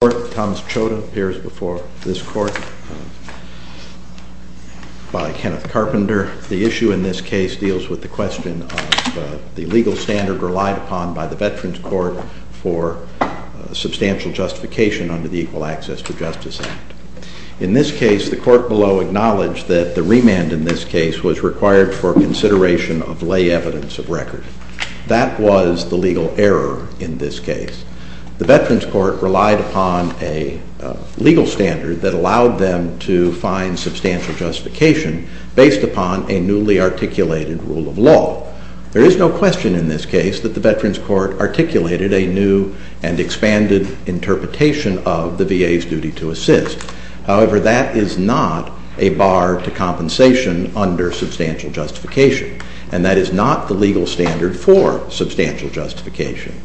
The issue in this case deals with the question of the legal standard relied upon by the Veterans Court for substantial justification under the Equal Access to Justice Act. In this case, the court below acknowledged that the remand in this case was required for consideration of lay evidence of record. That was the legal error in this case. The Veterans Court relied upon a legal standard that allowed them to find substantial justification based upon a newly articulated rule of law. There is no question in this case that the Veterans Court articulated a new and expanded interpretation of the VA's duty to assist. However, that is not a bar to compensation under substantial justification, and that is not the legal standard for substantial justification.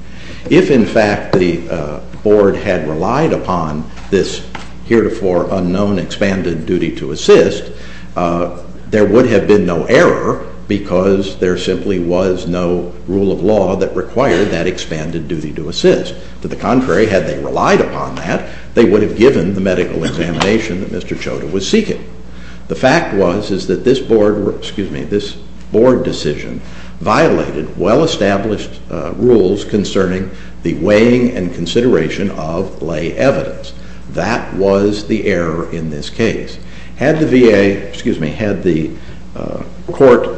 If, in fact, the board had relied upon this heretofore unknown expanded duty to assist, there would have been no error because there simply was no rule of law that required that expanded duty to assist. To the contrary, had they relied upon that, they would have given the medical examination that Mr. Chotta was seeking. The fact was is that this board decision violated well-established rules concerning the weighing and consideration of lay evidence. That was the error in this case. Had the VA, excuse me, had the court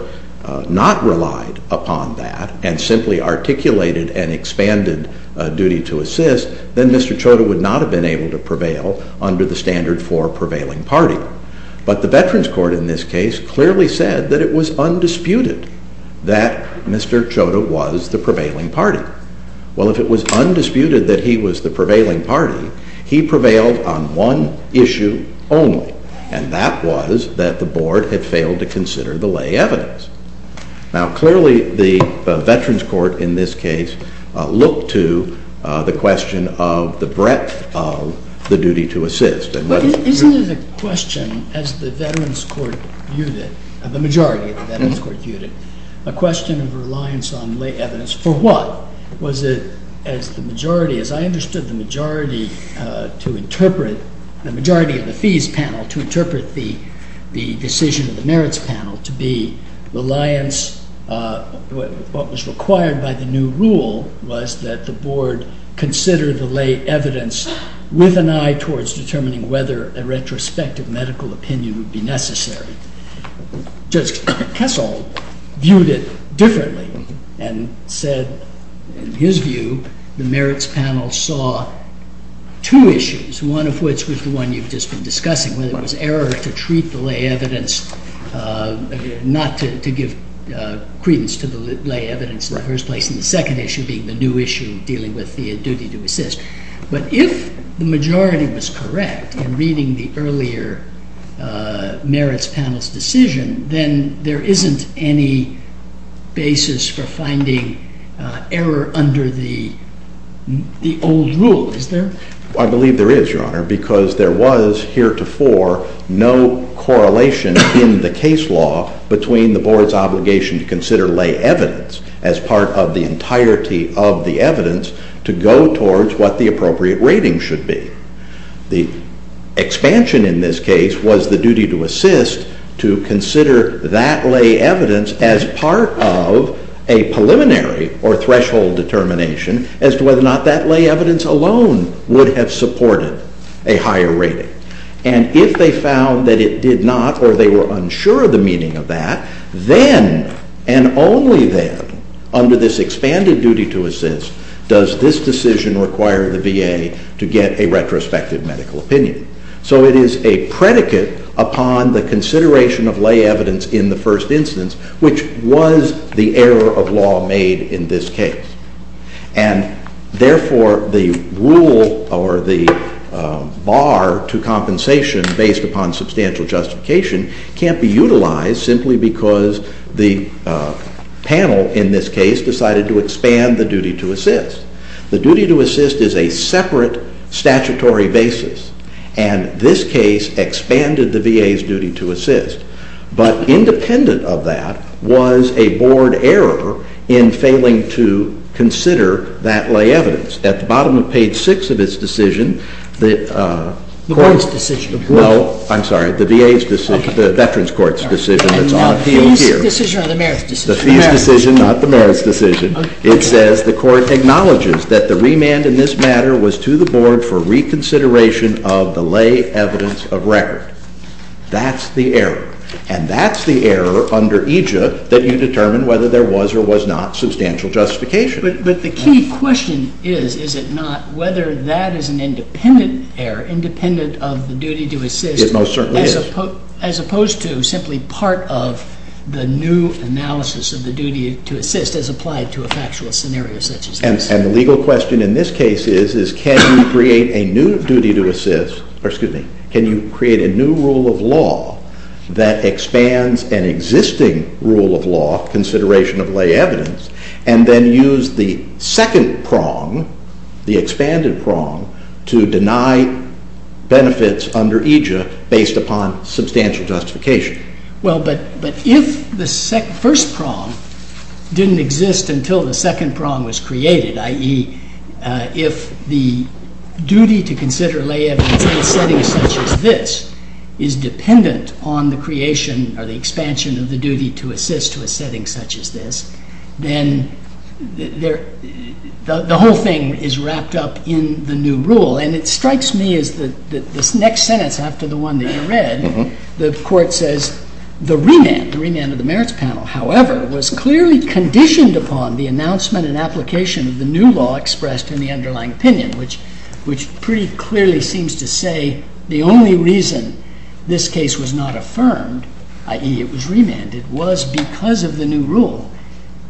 not relied upon that and simply articulated an expanded duty to assist, then Mr. Chotta would not have been able to prevail under the standard for prevailing party. But the Veterans Court in this case clearly said that it was undisputed that Mr. Chotta was the prevailing party. Well, if it was undisputed that he was the prevailing party, he prevailed on one issue only, and that was that the board had failed to consider the lay evidence. Now, clearly the Veterans Court in this case looked to the question of the breadth of the duty to assist. Isn't it a question as the Veterans Court viewed it, the majority of the Veterans Court viewed it, a question of reliance on lay evidence for what? Was it as the majority, as I understood the majority to interpret, the majority of the fees panel to interpret the decision of the merits panel to be reliance, what was required by the new rule was that the board consider the lay evidence with an eye towards determining whether a retrospective medical opinion would be necessary. Judge Kessel viewed it differently and said, in his view, the merits panel saw two issues, one of which was the one you've just been discussing, whether it was error to treat the lay evidence, not to give credence to the lay evidence in the first place, and the second issue being the new issue dealing with the duty to assist. But if the majority was correct in reading the earlier merits panel's decision, then there isn't any basis for finding error under the old rule, is there? I believe there is, Your Honor, because there was heretofore no correlation in the case law between the board's obligation to consider lay evidence as part of the entirety of the evidence to go towards what the appropriate rating should be. The expansion in this case was the duty to assist to consider that lay evidence as part of a preliminary or threshold determination as to whether or not that lay evidence alone would have supported a higher rating. And if they found that it did not or they were unsure of the meaning of that, then and only then, under this expanded duty to assist, does this decision require the VA to get a retrospective medical opinion. So it is a predicate upon the consideration of lay evidence in the first instance, which was the error of law made in this case. And therefore, the rule or the bar to compensation based upon substantial justification can't be utilized simply because the panel in this case decided to expand the duty to assist. The duty to assist is a separate statutory basis. And this case expanded the VA's duty to assist. But independent of that was a board error in failing to consider that lay evidence. At the bottom of page 6 of its decision, the court's decision, no, I'm sorry, the VA's decision, the Veterans Court's decision that's on the field here. The fees decision or the merits decision? The fees decision, not the merits decision. It says the court acknowledges that the remand in this matter was to the board for reconsideration of the lay evidence of record. That's the error. And that's the error under EJIA that you determine whether there was or was not substantial justification. But the key question is, is it not, whether that is an independent error, independent of the duty to assist. It most certainly is. As opposed to simply part of the new analysis of the duty to assist as applied to a factual scenario such as this. And the legal question in this case is, can you create a new duty to assist, or excuse me, can you create a new rule of law that expands an existing rule of law, consideration of lay evidence, and then use the second prong, the expanded prong, to deny benefits under EJIA based upon substantial justification? Well, but if the first prong didn't exist until the second prong was created, i.e., if the duty to consider lay evidence in a setting such as this is dependent on the creation or the expansion of the duty to assist to a setting such as this, then the whole thing is wrapped up in the new rule. And it strikes me as this next sentence after the one that you read, the court says, the remand, the remand of the merits panel, however, was clearly conditioned upon the announcement and application of the new law expressed in the underlying opinion, which pretty clearly seems to say the only reason this case was not affirmed, i.e., it was remanded, was because of the new rule.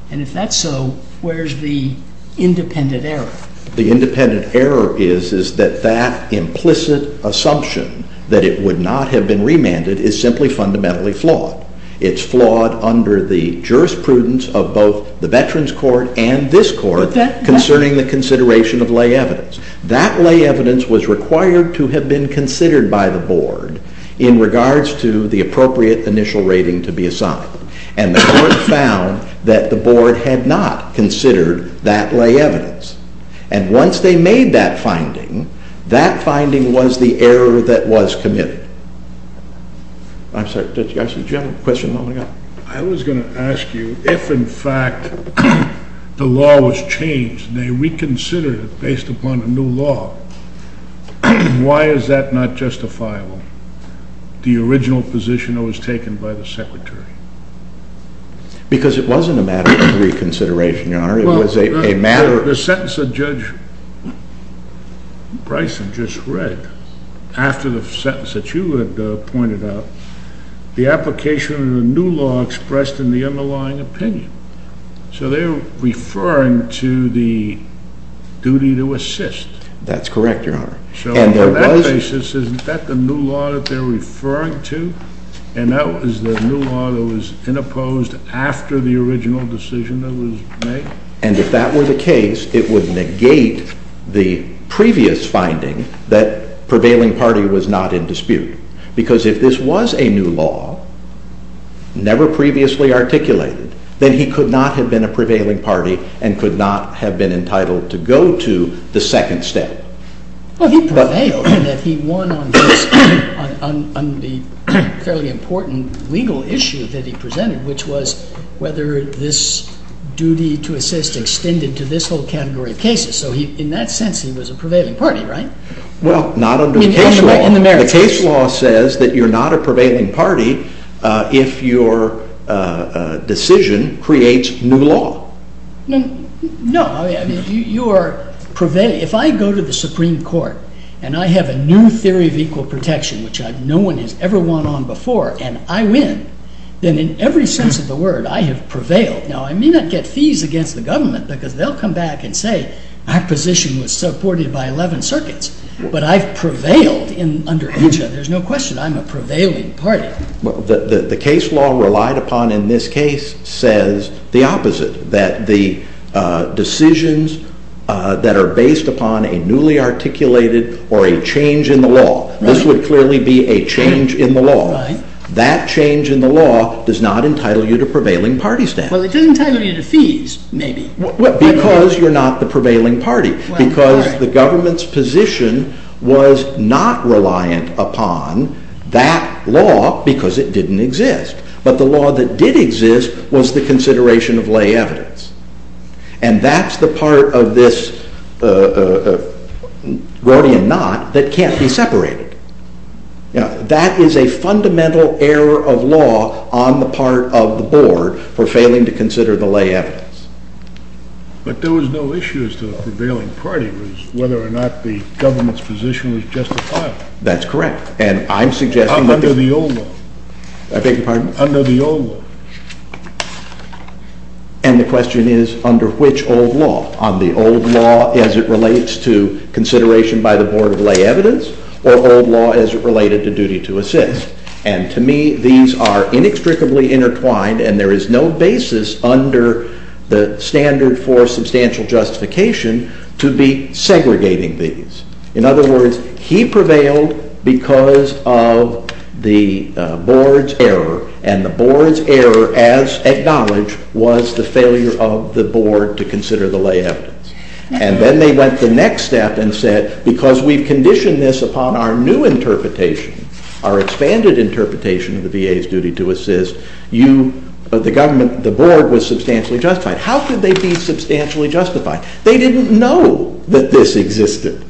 And if that's so, where's the independent error? The independent error is that that implicit assumption that it would not have been remanded is simply fundamentally flawed. It's flawed under the jurisprudence of both the veterans court and this court concerning the consideration of lay evidence. That lay evidence was required to have been considered by the board in regards to the appropriate initial rating to be assigned. And the court found that the board had not considered that lay evidence. And once they made that finding, that finding was the error that was committed. I'm sorry, did you have a question? I was going to ask you if, in fact, the law was changed and they reconsidered it based upon a new law, why is that not justifiable? The original position that was taken by the secretary. Because it wasn't a matter of reconsideration, Your Honor. The sentence that Judge Bryson just read, after the sentence that you had pointed out, the application of the new law expressed in the underlying opinion. So they're referring to the duty to assist. So on that basis, isn't that the new law that they're referring to? And that was the new law that was in opposed after the original decision that was made? And if that were the case, it would negate the previous finding that prevailing party was not in dispute. Because if this was a new law, never previously articulated, then he could not have been a prevailing party and could not have been entitled to go to the second step. Well, he prevailed in that he won on the fairly important legal issue that he presented, which was whether this duty to assist extended to this whole category of cases. So in that sense, he was a prevailing party, right? Well, not under the case law. The case law says that you're not a prevailing party if your decision creates new law. No. If I go to the Supreme Court and I have a new theory of equal protection, which no one has ever won on before, and I win, then in every sense of the word, I have prevailed. Now, I may not get fees against the government, because they'll come back and say, our position was supported by 11 circuits. But I've prevailed under each other. There's no question. I'm a prevailing party. The case law relied upon in this case says the opposite, that the decisions that are based upon a newly articulated or a change in the law. This would clearly be a change in the law. That change in the law does not entitle you to prevailing party status. Well, it does entitle you to fees, maybe. Because you're not the prevailing party. Because the government's position was not reliant upon that law, because it didn't exist. But the law that did exist was the consideration of lay evidence. And that's the part of this rhodium knot that can't be separated. Now, that is a fundamental error of law on the part of the board for failing to consider the lay evidence. But there was no issue as to the prevailing party was whether or not the government's position was justified. That's correct. Under the old law. I beg your pardon? Under the old law. And the question is, under which old law? On the old law as it relates to consideration by the board of lay evidence, or old law as it related to duty to assist? And to me, these are inextricably intertwined, and there is no basis under the standard for substantial justification to be segregating these. In other words, he prevailed because of the board's error. And the board's error, as acknowledged, was the failure of the board to consider the lay evidence. And then they went the next step and said, because we've conditioned this upon our new interpretation, our expanded interpretation of the VA's duty to assist, the board was substantially justified. How could they be substantially justified? They didn't know that this existed.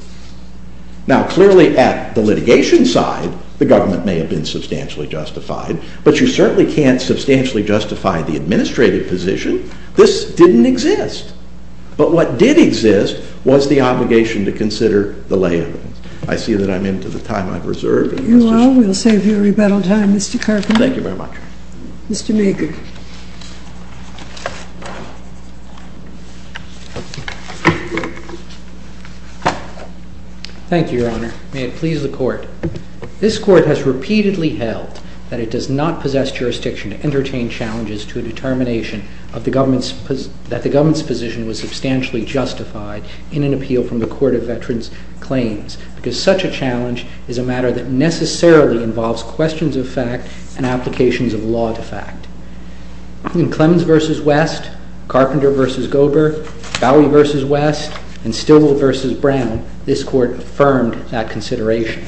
Now, clearly at the litigation side, the government may have been substantially justified, but you certainly can't substantially justify the administrative position. This didn't exist. But what did exist was the obligation to consider the lay evidence. I see that I'm into the time I've reserved. If you will, we'll save you a rebuttal time, Mr. Carpenter. Thank you very much. Mr. Maycock. Thank you, Your Honor. May it please the Court. This Court has repeatedly held that it does not possess jurisdiction to entertain challenges to a determination that the government's position was substantially justified in an appeal from the Court of Veterans Claims because such a challenge is a matter that necessarily involves questions of fact and applications of law to fact. In Clemens v. West, Carpenter v. Gober, Bowie v. West, and Stilwell v. Brown, this Court affirmed that consideration.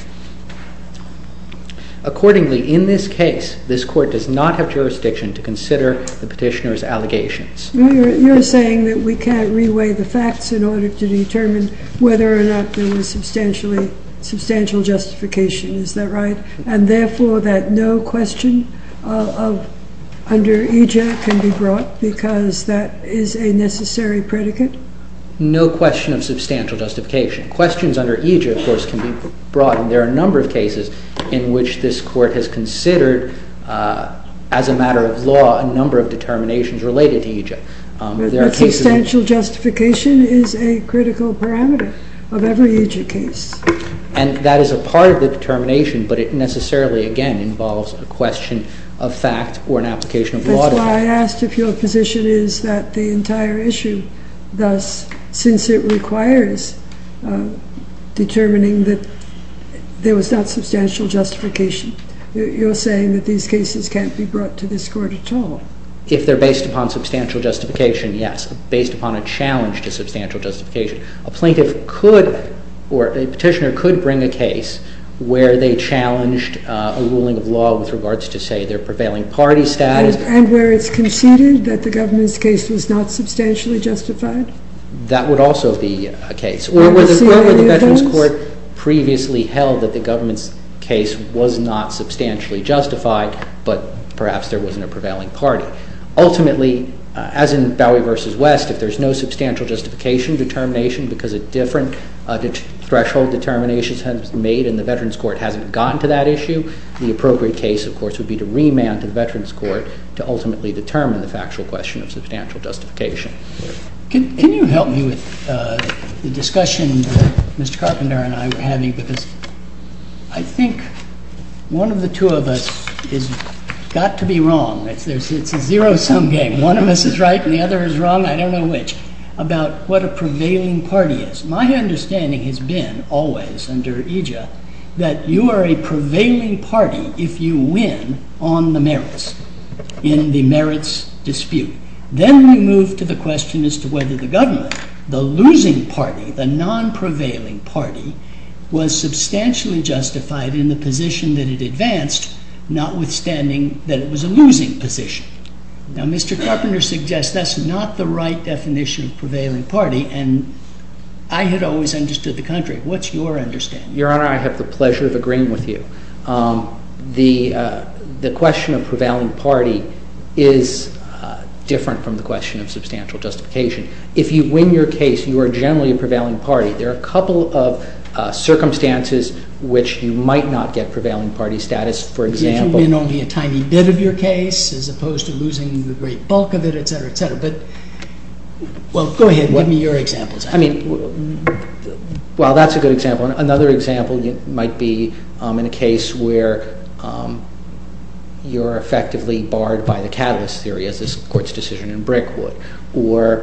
Accordingly, in this case, this Court does not have jurisdiction to consider the petitioner's allegations. You're saying that we can't reweigh the facts in order to determine whether or not there was substantial justification. Is that right? And, therefore, that no question under aegis can be brought because that is a necessary predicate? No question of substantial justification. Questions under aegis, of course, can be brought, and there are a number of cases in which this Court has considered, as a matter of law, a number of determinations related to aegis. But substantial justification is a critical parameter of every aegis case. And that is a part of the determination, but it necessarily, again, involves a question of fact or an application of law to fact. That's why I asked if your position is that the entire issue, thus, since it requires determining that there was not substantial justification, you're saying that these cases can't be brought to this Court at all? If they're based upon substantial justification, yes. Based upon a challenge to substantial justification. A plaintiff could, or a petitioner could, bring a case where they challenged a ruling of law with regards to, say, their prevailing party status. And where it's conceded that the government's case was not substantially justified? That would also be a case. Or where the Veterans Court previously held that the government's case was not substantially justified, but perhaps there wasn't a prevailing party. Ultimately, as in Bowie v. West, if there's no substantial justification determination because a different threshold determination has been made and the Veterans Court hasn't gotten to that issue, the appropriate case, of course, would be to remand to the Veterans Court to ultimately determine the factual question of substantial justification. Can you help me with the discussion that Mr. Carpenter and I were having? I think one of the two of us has got to be wrong. It's a zero-sum game. One of us is right and the other is wrong. I don't know which. About what a prevailing party is. My understanding has been, always, under IJIA, that you are a prevailing party if you win on the merits in the merits dispute. Then we move to the question as to whether the government, the losing party, the non-prevailing party, was substantially justified in the position that it advanced, notwithstanding that it was a losing position. Now, Mr. Carpenter suggests that's not the right definition of prevailing party, and I had always understood the contrary. What's your understanding? Your Honor, I have the pleasure of agreeing with you. The question of prevailing party is different from the question of substantial justification. If you win your case, you are generally a prevailing party. There are a couple of circumstances in which you might not get prevailing party status. For example… Did you win only a tiny bit of your case as opposed to losing the great bulk of it, etc., etc.? Well, go ahead. Give me your examples. Well, that's a good example. Another example might be in a case where you're effectively barred by the catalyst theory, as this Court's decision in Brickwood, or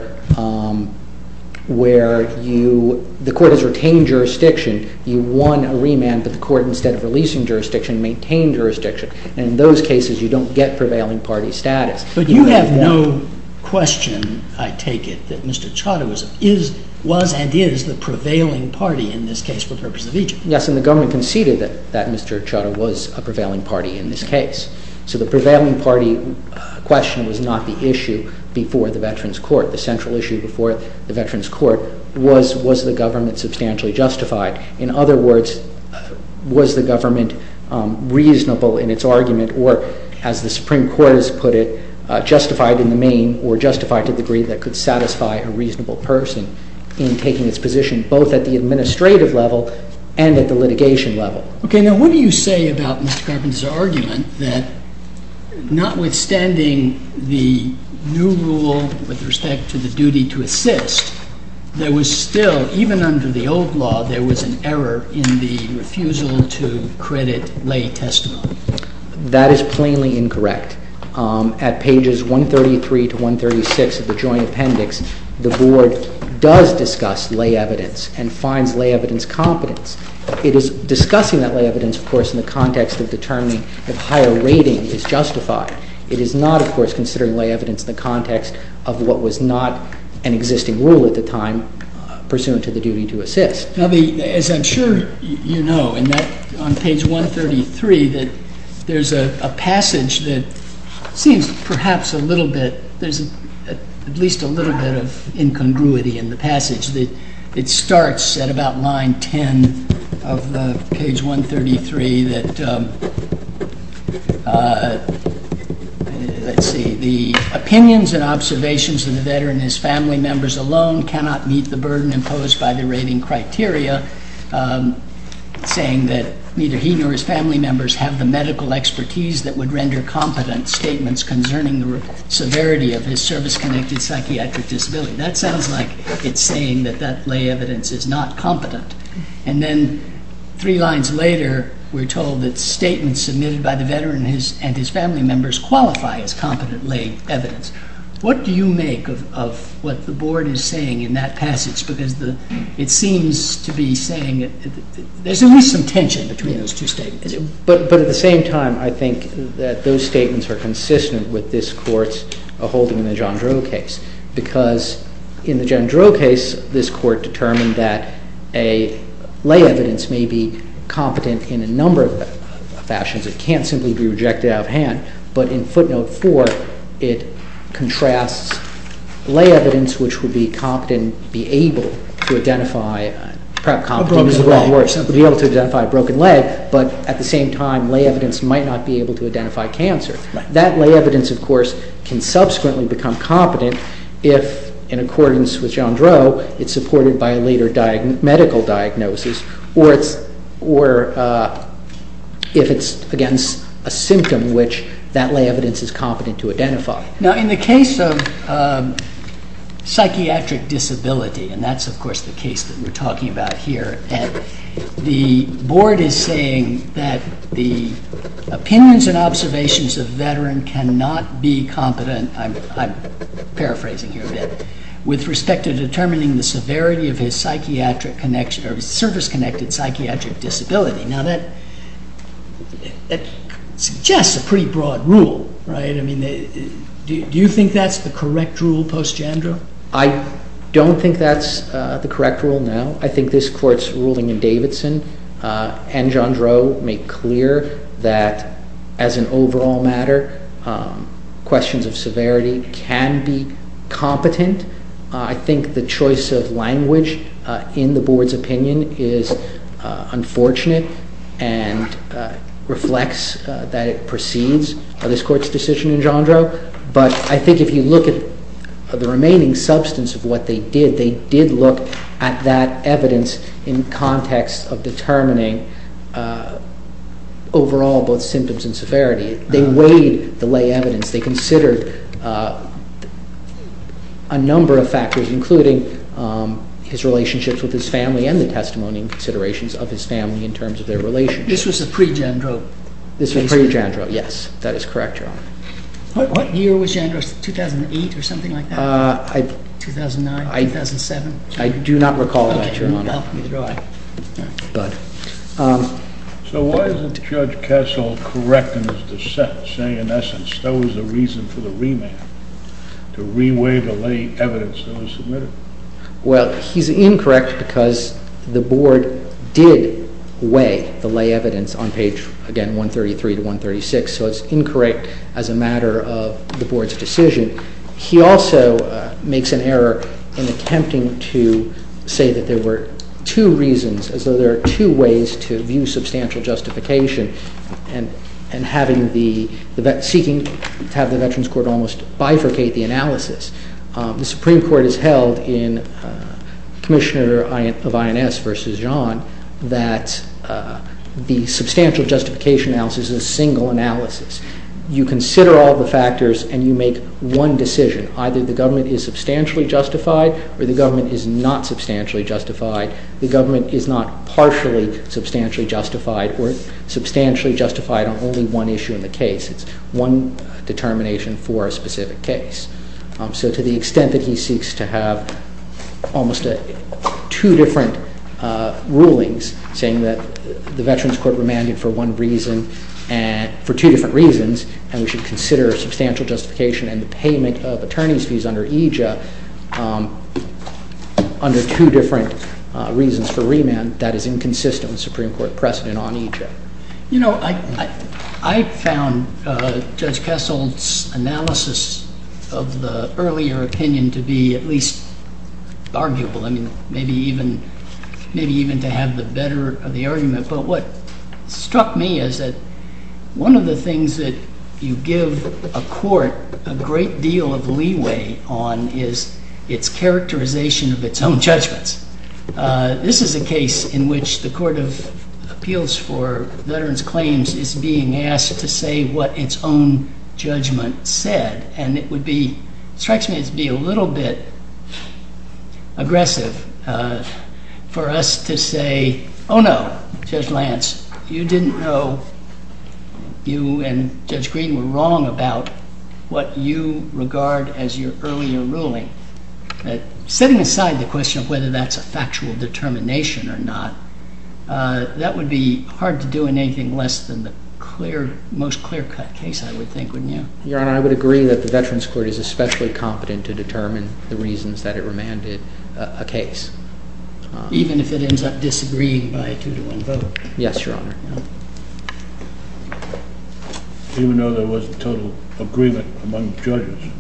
where the Court has retained jurisdiction. You won a remand, but the Court, instead of releasing jurisdiction, maintained jurisdiction. In those cases, you don't get prevailing party status. But you have no question, I take it, that Mr. Chadha was and is the prevailing party in this case for the purpose of Egypt. Yes, and the government conceded that Mr. Chadha was a prevailing party in this case. So the prevailing party question was not the issue before the Veterans Court. The central issue before the Veterans Court was, was the government substantially justified? In other words, was the government reasonable in its argument? Or, as the Supreme Court has put it, justified in the main or justified to the degree that could satisfy a reasonable person in taking its position, both at the administrative level and at the litigation level? Okay, now what do you say about Mr. Carpenter's argument that, notwithstanding the new rule with respect to the duty to assist, there was still, even under the old law, there was an error in the refusal to credit lay testimony? That is plainly incorrect. At pages 133 to 136 of the Joint Appendix, the Board does discuss lay evidence and finds lay evidence competence. It is discussing that lay evidence, of course, in the context of determining if higher rating is justified. It is not, of course, considering lay evidence in the context of what was not an existing rule at the time pursuant to the duty to assist. Now the, as I'm sure you know, in that, on page 133, that there's a passage that seems perhaps a little bit, there's at least a little bit of incongruity in the passage. It starts at about line 10 of page 133 that, let's see, the opinions and observations of the veteran and his family members alone cannot meet the burden imposed by the rating criteria, saying that neither he nor his family members have the medical expertise that would render competent statements concerning the severity of his service-connected psychiatric disability. That sounds like it's saying that that lay evidence is not competent. And then three lines later, we're told that statements submitted by the veteran and his family members qualify as competent lay evidence. What do you make of what the Board is saying in that passage? Because it seems to be saying that there's at least some tension between those two statements. But at the same time, I think that those statements are consistent with this Court's holding in the John Droe case because in the John Droe case, this Court determined that a lay evidence may be competent in a number of fashions. It can't simply be rejected out of hand. But in footnote 4, it contrasts lay evidence, which would be competent, be able to identify, perhaps competent is a wrong word, be able to identify a broken leg, but at the same time, lay evidence might not be able to identify cancer. That lay evidence, of course, can subsequently become competent if, in accordance with John Droe, it's supported by a later medical diagnosis or if it's against a symptom which that lay evidence is competent to identify. Now, in the case of psychiatric disability, and that's of course the case that we're talking about here, the Board is saying that the opinions and observations of a veteran cannot be competent, I'm paraphrasing here a bit, with respect to determining the severity of his psychiatric connection or his service-connected psychiatric disability. Now, that suggests a pretty broad rule, right? I mean, do you think that's the correct rule post-Jandra? I don't think that's the correct rule now. I think this Court's ruling in Davidson and John Droe make clear that, as an overall matter, questions of severity can be competent. I think the choice of language in the Board's opinion is unfortunate and reflects that it precedes this Court's decision in Jandra. But I think if you look at the remaining substance of what they did, they did look at that evidence in context of determining overall both symptoms and severity. They weighed the lay evidence. They considered a number of factors, including his relationships with his family and the testimony and considerations of his family in terms of their relationship. This was pre-Jandra? This was pre-Jandra, yes. That is correct, Your Honor. What year was Jandra? 2008 or something like that? 2009, 2007. I do not recall that, Your Honor. Okay. So why isn't Judge Kessel correct in his dissent, saying, in essence, that was the reason for the remand, to re-weigh the lay evidence that was submitted? Well, he's incorrect because the Board did weigh the lay evidence on page, again, 133 to 136. So it's incorrect as a matter of the Board's decision. He also makes an error in attempting to say that there were two reasons, as though there are two ways to view substantial justification, and seeking to have the Veterans Court almost bifurcate the analysis. The Supreme Court has held in Commissioner of INS v. John that the substantial justification analysis is a single analysis. You consider all the factors and you make one decision. Either the government is substantially justified or the government is not substantially justified. The government is not partially substantially justified or substantially justified on only one issue in the case. It's one determination for a specific case. So to the extent that he seeks to have almost two different rulings, saying that the Veterans Court remanded for one reason, for two different reasons, and we should consider substantial justification and the payment of attorney's fees under EJA under two different reasons for remand, that is inconsistent with Supreme Court precedent on EJA. You know, I found Judge Kessel's analysis of the earlier opinion to be at least arguable. I mean, maybe even to have the better of the argument. But what struck me is that one of the things that you give a court a great deal of leeway on is its characterization of its own judgments. This is a case in which the Court of Appeals for Veterans Claims is being asked to say what its own judgment said. And it would be, it strikes me as being a little bit aggressive for us to say, oh no, Judge Lance, you didn't know, you and Judge Green were wrong about what you regard as your earlier ruling. Setting aside the question of whether that's a factual determination or not, that would be hard to do in anything less than the most clear-cut case, I would think, wouldn't you? Your Honor, I would agree that the Veterans Court is especially competent to determine the reasons that it remanded a case. Even if it ends up disagreeing by a two-to-one vote? Yes, Your Honor.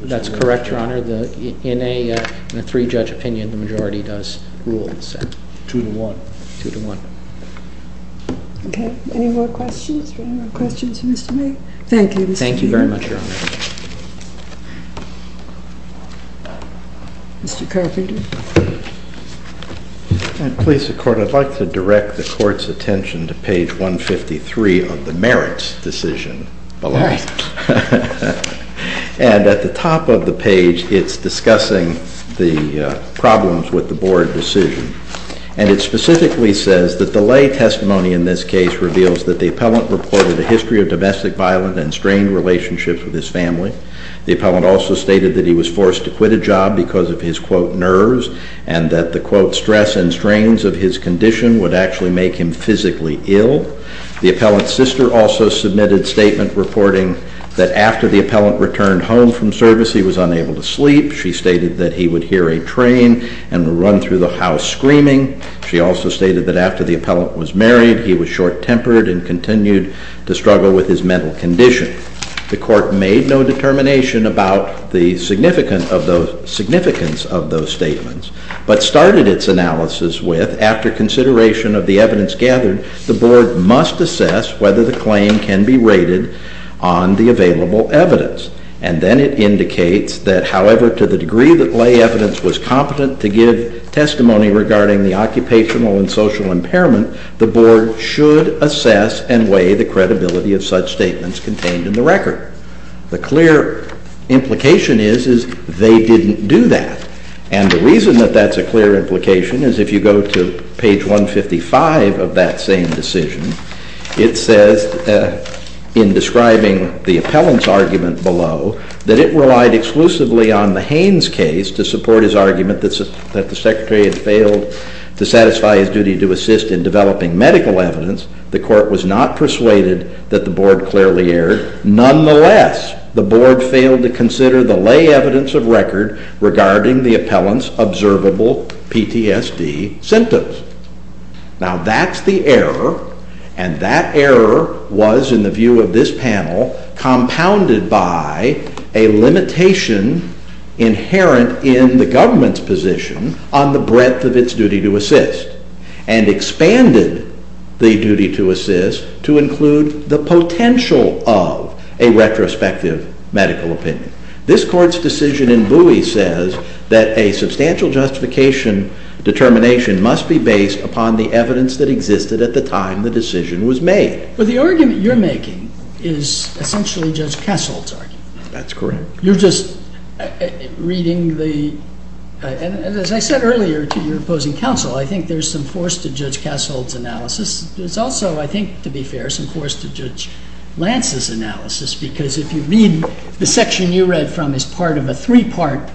That's correct, Your Honor. In a three-judge opinion, the majority does rule the same. Two to one. Two to one. Okay, any more questions? Any more questions for Mr. May? Thank you, Mr. May. Thank you very much, Your Honor. Mr. Carpenter. Please, Your Honor, I'd like to direct the Court's attention to page 153 of the merits decision below. All right. And at the top of the page, it's discussing the problems with the Board decision. And it specifically says that the lay testimony in this case reveals that the appellant reported a history of domestic violence and strained relationships with his family. The appellant also stated that he was forced to quit a job because of his, quote, nerves, and that the, quote, stress and strains of his condition would actually make him physically ill. The appellant's sister also submitted statement reporting that after the appellant returned home from service, he was unable to sleep. She stated that he would hear a train and run through the house screaming. She also stated that after the appellant was married, he was short-tempered and continued to struggle with his mental condition. The Court made no determination about the significance of those statements, but started its analysis with, after consideration of the evidence gathered, the Board must assess whether the claim can be rated on the available evidence. And then it indicates that, however, to the degree that lay evidence was competent to give testimony regarding the occupational and social impairment, the Board should assess and weigh the credibility of such statements contained in the record. The clear implication is, is they didn't do that. And the reason that that's a clear implication is if you go to page 155 of that same decision, it says in describing the appellant's argument below that it relied exclusively on the Haynes case to support his argument that the Secretary had failed to satisfy his duty to assist in developing medical evidence, the Court was not persuaded that the Board clearly erred. Nonetheless, the Board failed to consider the lay evidence of record regarding the appellant's observable PTSD symptoms. Now that's the error, and that error was, in the view of this panel, compounded by a limitation inherent in the government's position on the breadth of its duty to assist, and expanded the duty to assist to include the potential of a retrospective medical opinion. This Court's decision in Bowie says that a substantial justification determination must be based upon the evidence that existed at the time the decision was made. Well, the argument you're making is essentially Judge Cassell's argument. That's correct. You're just reading the, and as I said earlier to your opposing counsel, I think there's some force to Judge Cassell's analysis. There's also, I think, to be fair, some force to Judge Lance's analysis, because if you read the section you read from as part of a three-part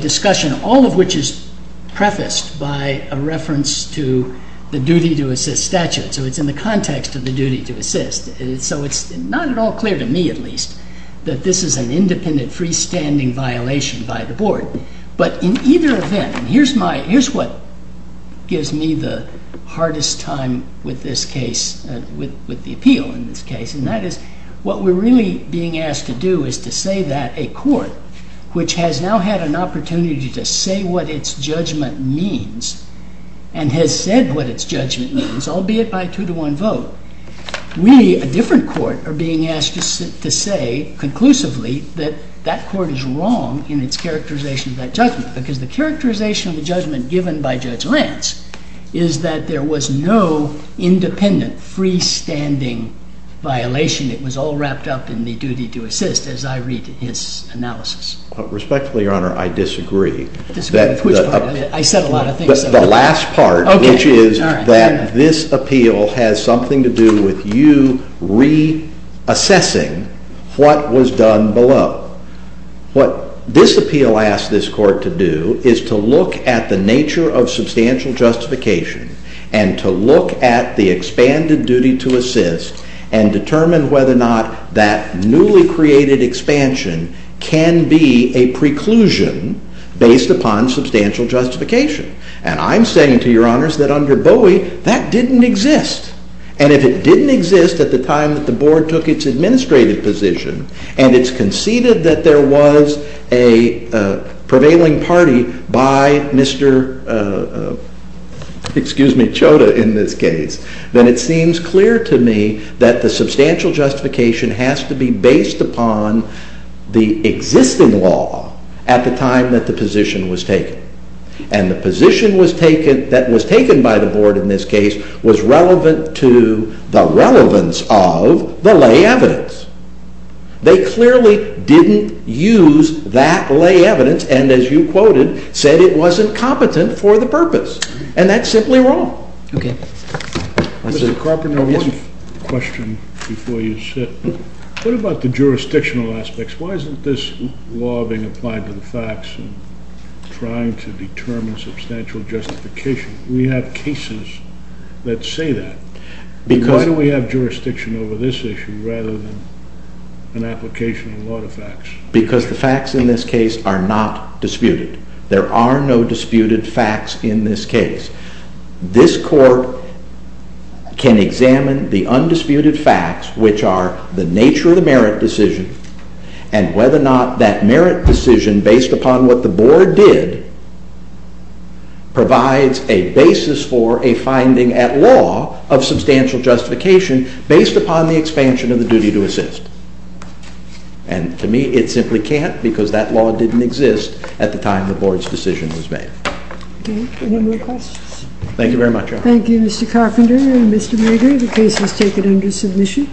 discussion, all of which is prefaced by a reference to the duty to assist statute. So it's in the context of the duty to assist. So it's not at all clear to me, at least, that this is an independent freestanding violation by the Board. But in either event, here's what gives me the hardest time with this case, with the appeal in this case, and that is what we're really being asked to do is to say that a court, which has now had an opportunity to say what its judgment means, and has said what its judgment means, albeit by two-to-one vote, we, a different court, are being asked to say conclusively that that court is wrong in its characterization of that judgment, because the characterization of the judgment given by Judge Lance is that there was no independent freestanding violation. It was all wrapped up in the duty to assist, as I read his analysis. Respectfully, Your Honor, I disagree. Disagree with which part? I said a lot of things. The last part, which is that this appeal has something to do with you reassessing what was done below. What this appeal asks this court to do is to look at the nature of substantial justification and to look at the expanded duty to assist and determine whether or not that newly created expansion can be a preclusion based upon substantial justification. And I'm saying to Your Honors that under Bowie, that didn't exist. And if it didn't exist at the time that the Board took its administrative position and it's conceded that there was a prevailing party by Mr. Choda in this case, then it seems clear to me that the substantial justification has to be based upon the existing law at the time that the position was taken. And the position that was taken by the Board in this case was relevant to the relevance of the lay evidence. They clearly didn't use that lay evidence and, as you quoted, said it wasn't competent for the purpose. And that's simply wrong. Mr. Carpenter, one question before you sit. What about the jurisdictional aspects? Why isn't this law being applied to the facts and trying to determine substantial justification? We have cases that say that. Why do we have jurisdiction over this issue rather than an application of law to facts? Because the facts in this case are not disputed. There are no disputed facts in this case. This Court can examine the undisputed facts, which are the nature of the merit decision, and whether or not that merit decision, based upon what the Board did, provides a basis for a finding at law of substantial justification based upon the expansion of the duty to assist. And, to me, it simply can't because that law didn't exist at the time the Board's decision was made. Okay. Any more questions? Thank you very much, Your Honor. Thank you, Mr. Carpenter and Mr. Bader. The case was taken under submission.